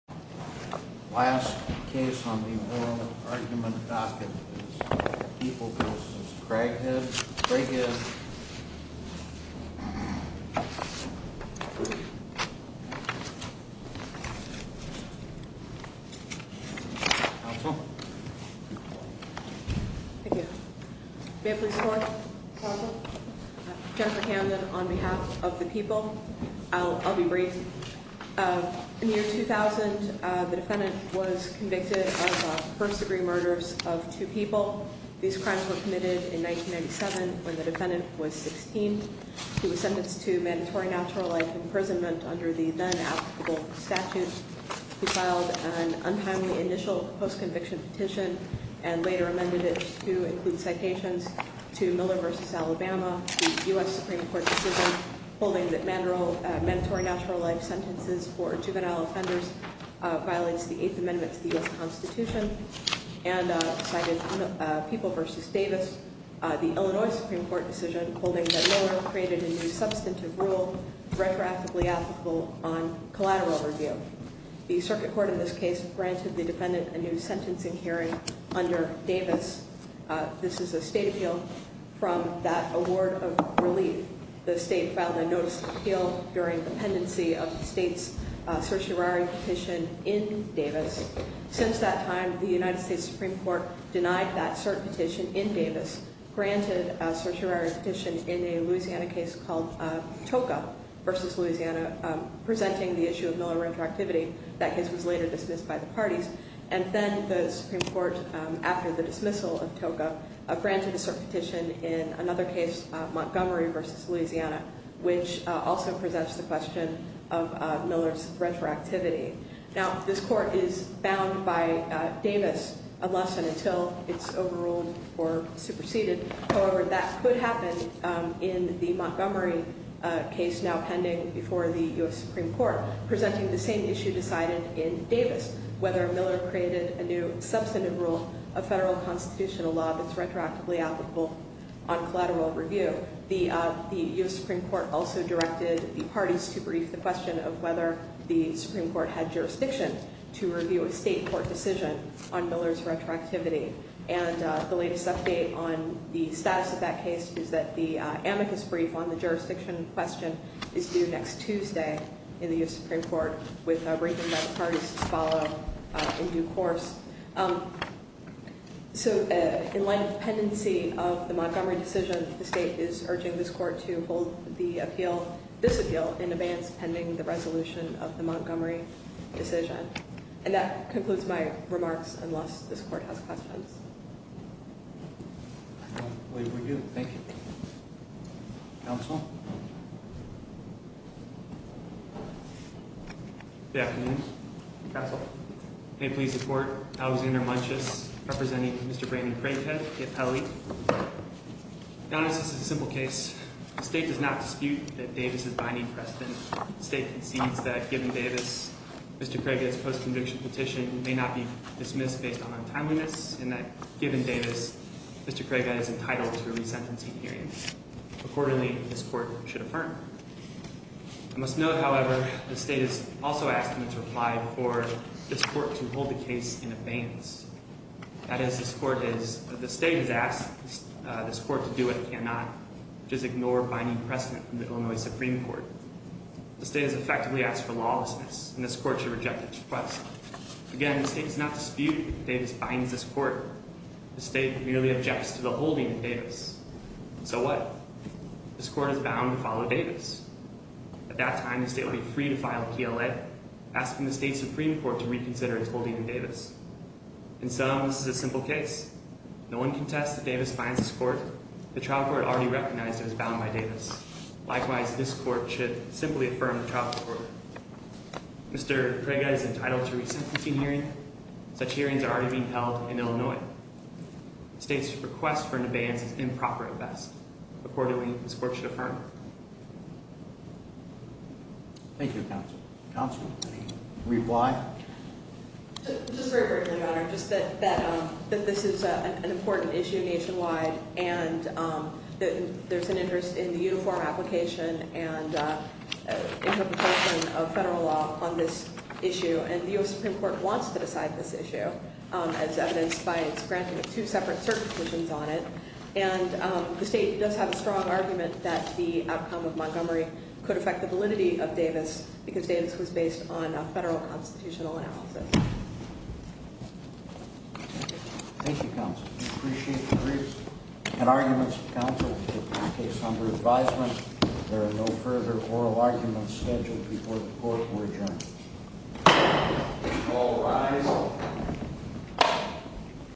Last case on the oral argument docket is People v. Craighead. Jennifer Camden on behalf of the People. I'll be brief. In the year 2000, the defendant was convicted of first degree murders of two people. These crimes were committed in 1997 when the defendant was 16. He was sentenced to mandatory natural life imprisonment under the then applicable statute. He filed an untimely initial post-conviction petition and later amended it to include citations to Miller v. Alabama, the U.S. Supreme Court decision holding that mandatory natural life sentences for juvenile offenders violates the Eighth Amendment to the U.S. Constitution. And cited People v. Davis, the Illinois Supreme Court decision holding that Miller created a new substantive rule retroactively applicable on collateral review. The circuit court in this case granted the defendant a new sentencing hearing under Davis. This is a state appeal from that award of relief. The state filed a notice of appeal during the pendency of the state's certiorari petition in Davis. Since that time, the United States Supreme Court denied that cert petition in Davis, granted a certiorari petition in a Louisiana case called Toca v. Louisiana presenting the issue of Miller retroactivity. That case was later dismissed by the parties. And then the Supreme Court, after the dismissal of Toca, granted a cert petition in another case, Montgomery v. Louisiana, which also presents the question of Miller's retroactivity. Now, this court is bound by Davis unless and until it's overruled or superseded. However, that could happen in the Montgomery case now pending before the U.S. Supreme Court presenting the same issue decided in Davis, whether Miller created a new substantive rule, a federal constitutional law that's retroactively applicable on collateral review. The U.S. Supreme Court also directed the parties to brief the question of whether the Supreme Court had jurisdiction to review a state court decision on Miller's retroactivity. And the latest update on the status of that case is that the amicus brief on the jurisdiction question is due next Tuesday in the U.S. Supreme Court with a briefing by the parties to follow in due course. So in light of the pendency of the Montgomery decision, the state is urging this court to hold the appeal, this appeal, in advance pending the resolution of the Montgomery decision. And that concludes my remarks unless this court has questions. I don't believe we do. Thank you. Counsel? Good afternoon. Counsel? May it please the court, Alexander Munches, representing Mr. Brandon Craithead, the appellee. Now, this is a simple case. The state does not dispute that Davis is binding precedent. The state concedes that given Davis, Mr. Craithead's post-conviction petition may not be dismissed based on untimeliness and that given Davis, Mr. Craithead is entitled to a resentencing hearing. Accordingly, this court should affirm. I must note, however, the state has also asked in its reply for this court to hold the case in advance. That is, the state has asked this court to do what it cannot, which is ignore binding precedent from the Illinois Supreme Court. The state has effectively asked for lawlessness, and this court should reject its request. Again, the state does not dispute that Davis binds this court. The state merely objects to the holding of Davis. So what? This court is bound to follow Davis. At that time, the state will be free to file a PLA, asking the state Supreme Court to reconsider its holding of Davis. In sum, this is a simple case. No one contests that Davis binds this court. The trial court already recognized it was bound by Davis. Likewise, this court should simply affirm the trial court. Mr. Craithead is entitled to a resentencing hearing. Such hearings are already being held in Illinois. The state's request for an abeyance is improper at best. Accordingly, this court should affirm. Thank you, Counsel. Counsel, any reply? Just very briefly, Your Honor, just that this is an important issue nationwide, and there's an interest in the uniform application and interpretation of federal law on this issue, and the U.S. Supreme Court wants to decide this issue, as evidenced by its granting of two separate certifications on it. And the state does have a strong argument that the outcome of Montgomery could affect the validity of Davis because Davis was based on a federal constitutional analysis. Thank you, Counsel. We appreciate the briefs and arguments. Counsel, this case is under advisement. There are no further oral arguments scheduled before the court will adjourn. All rise.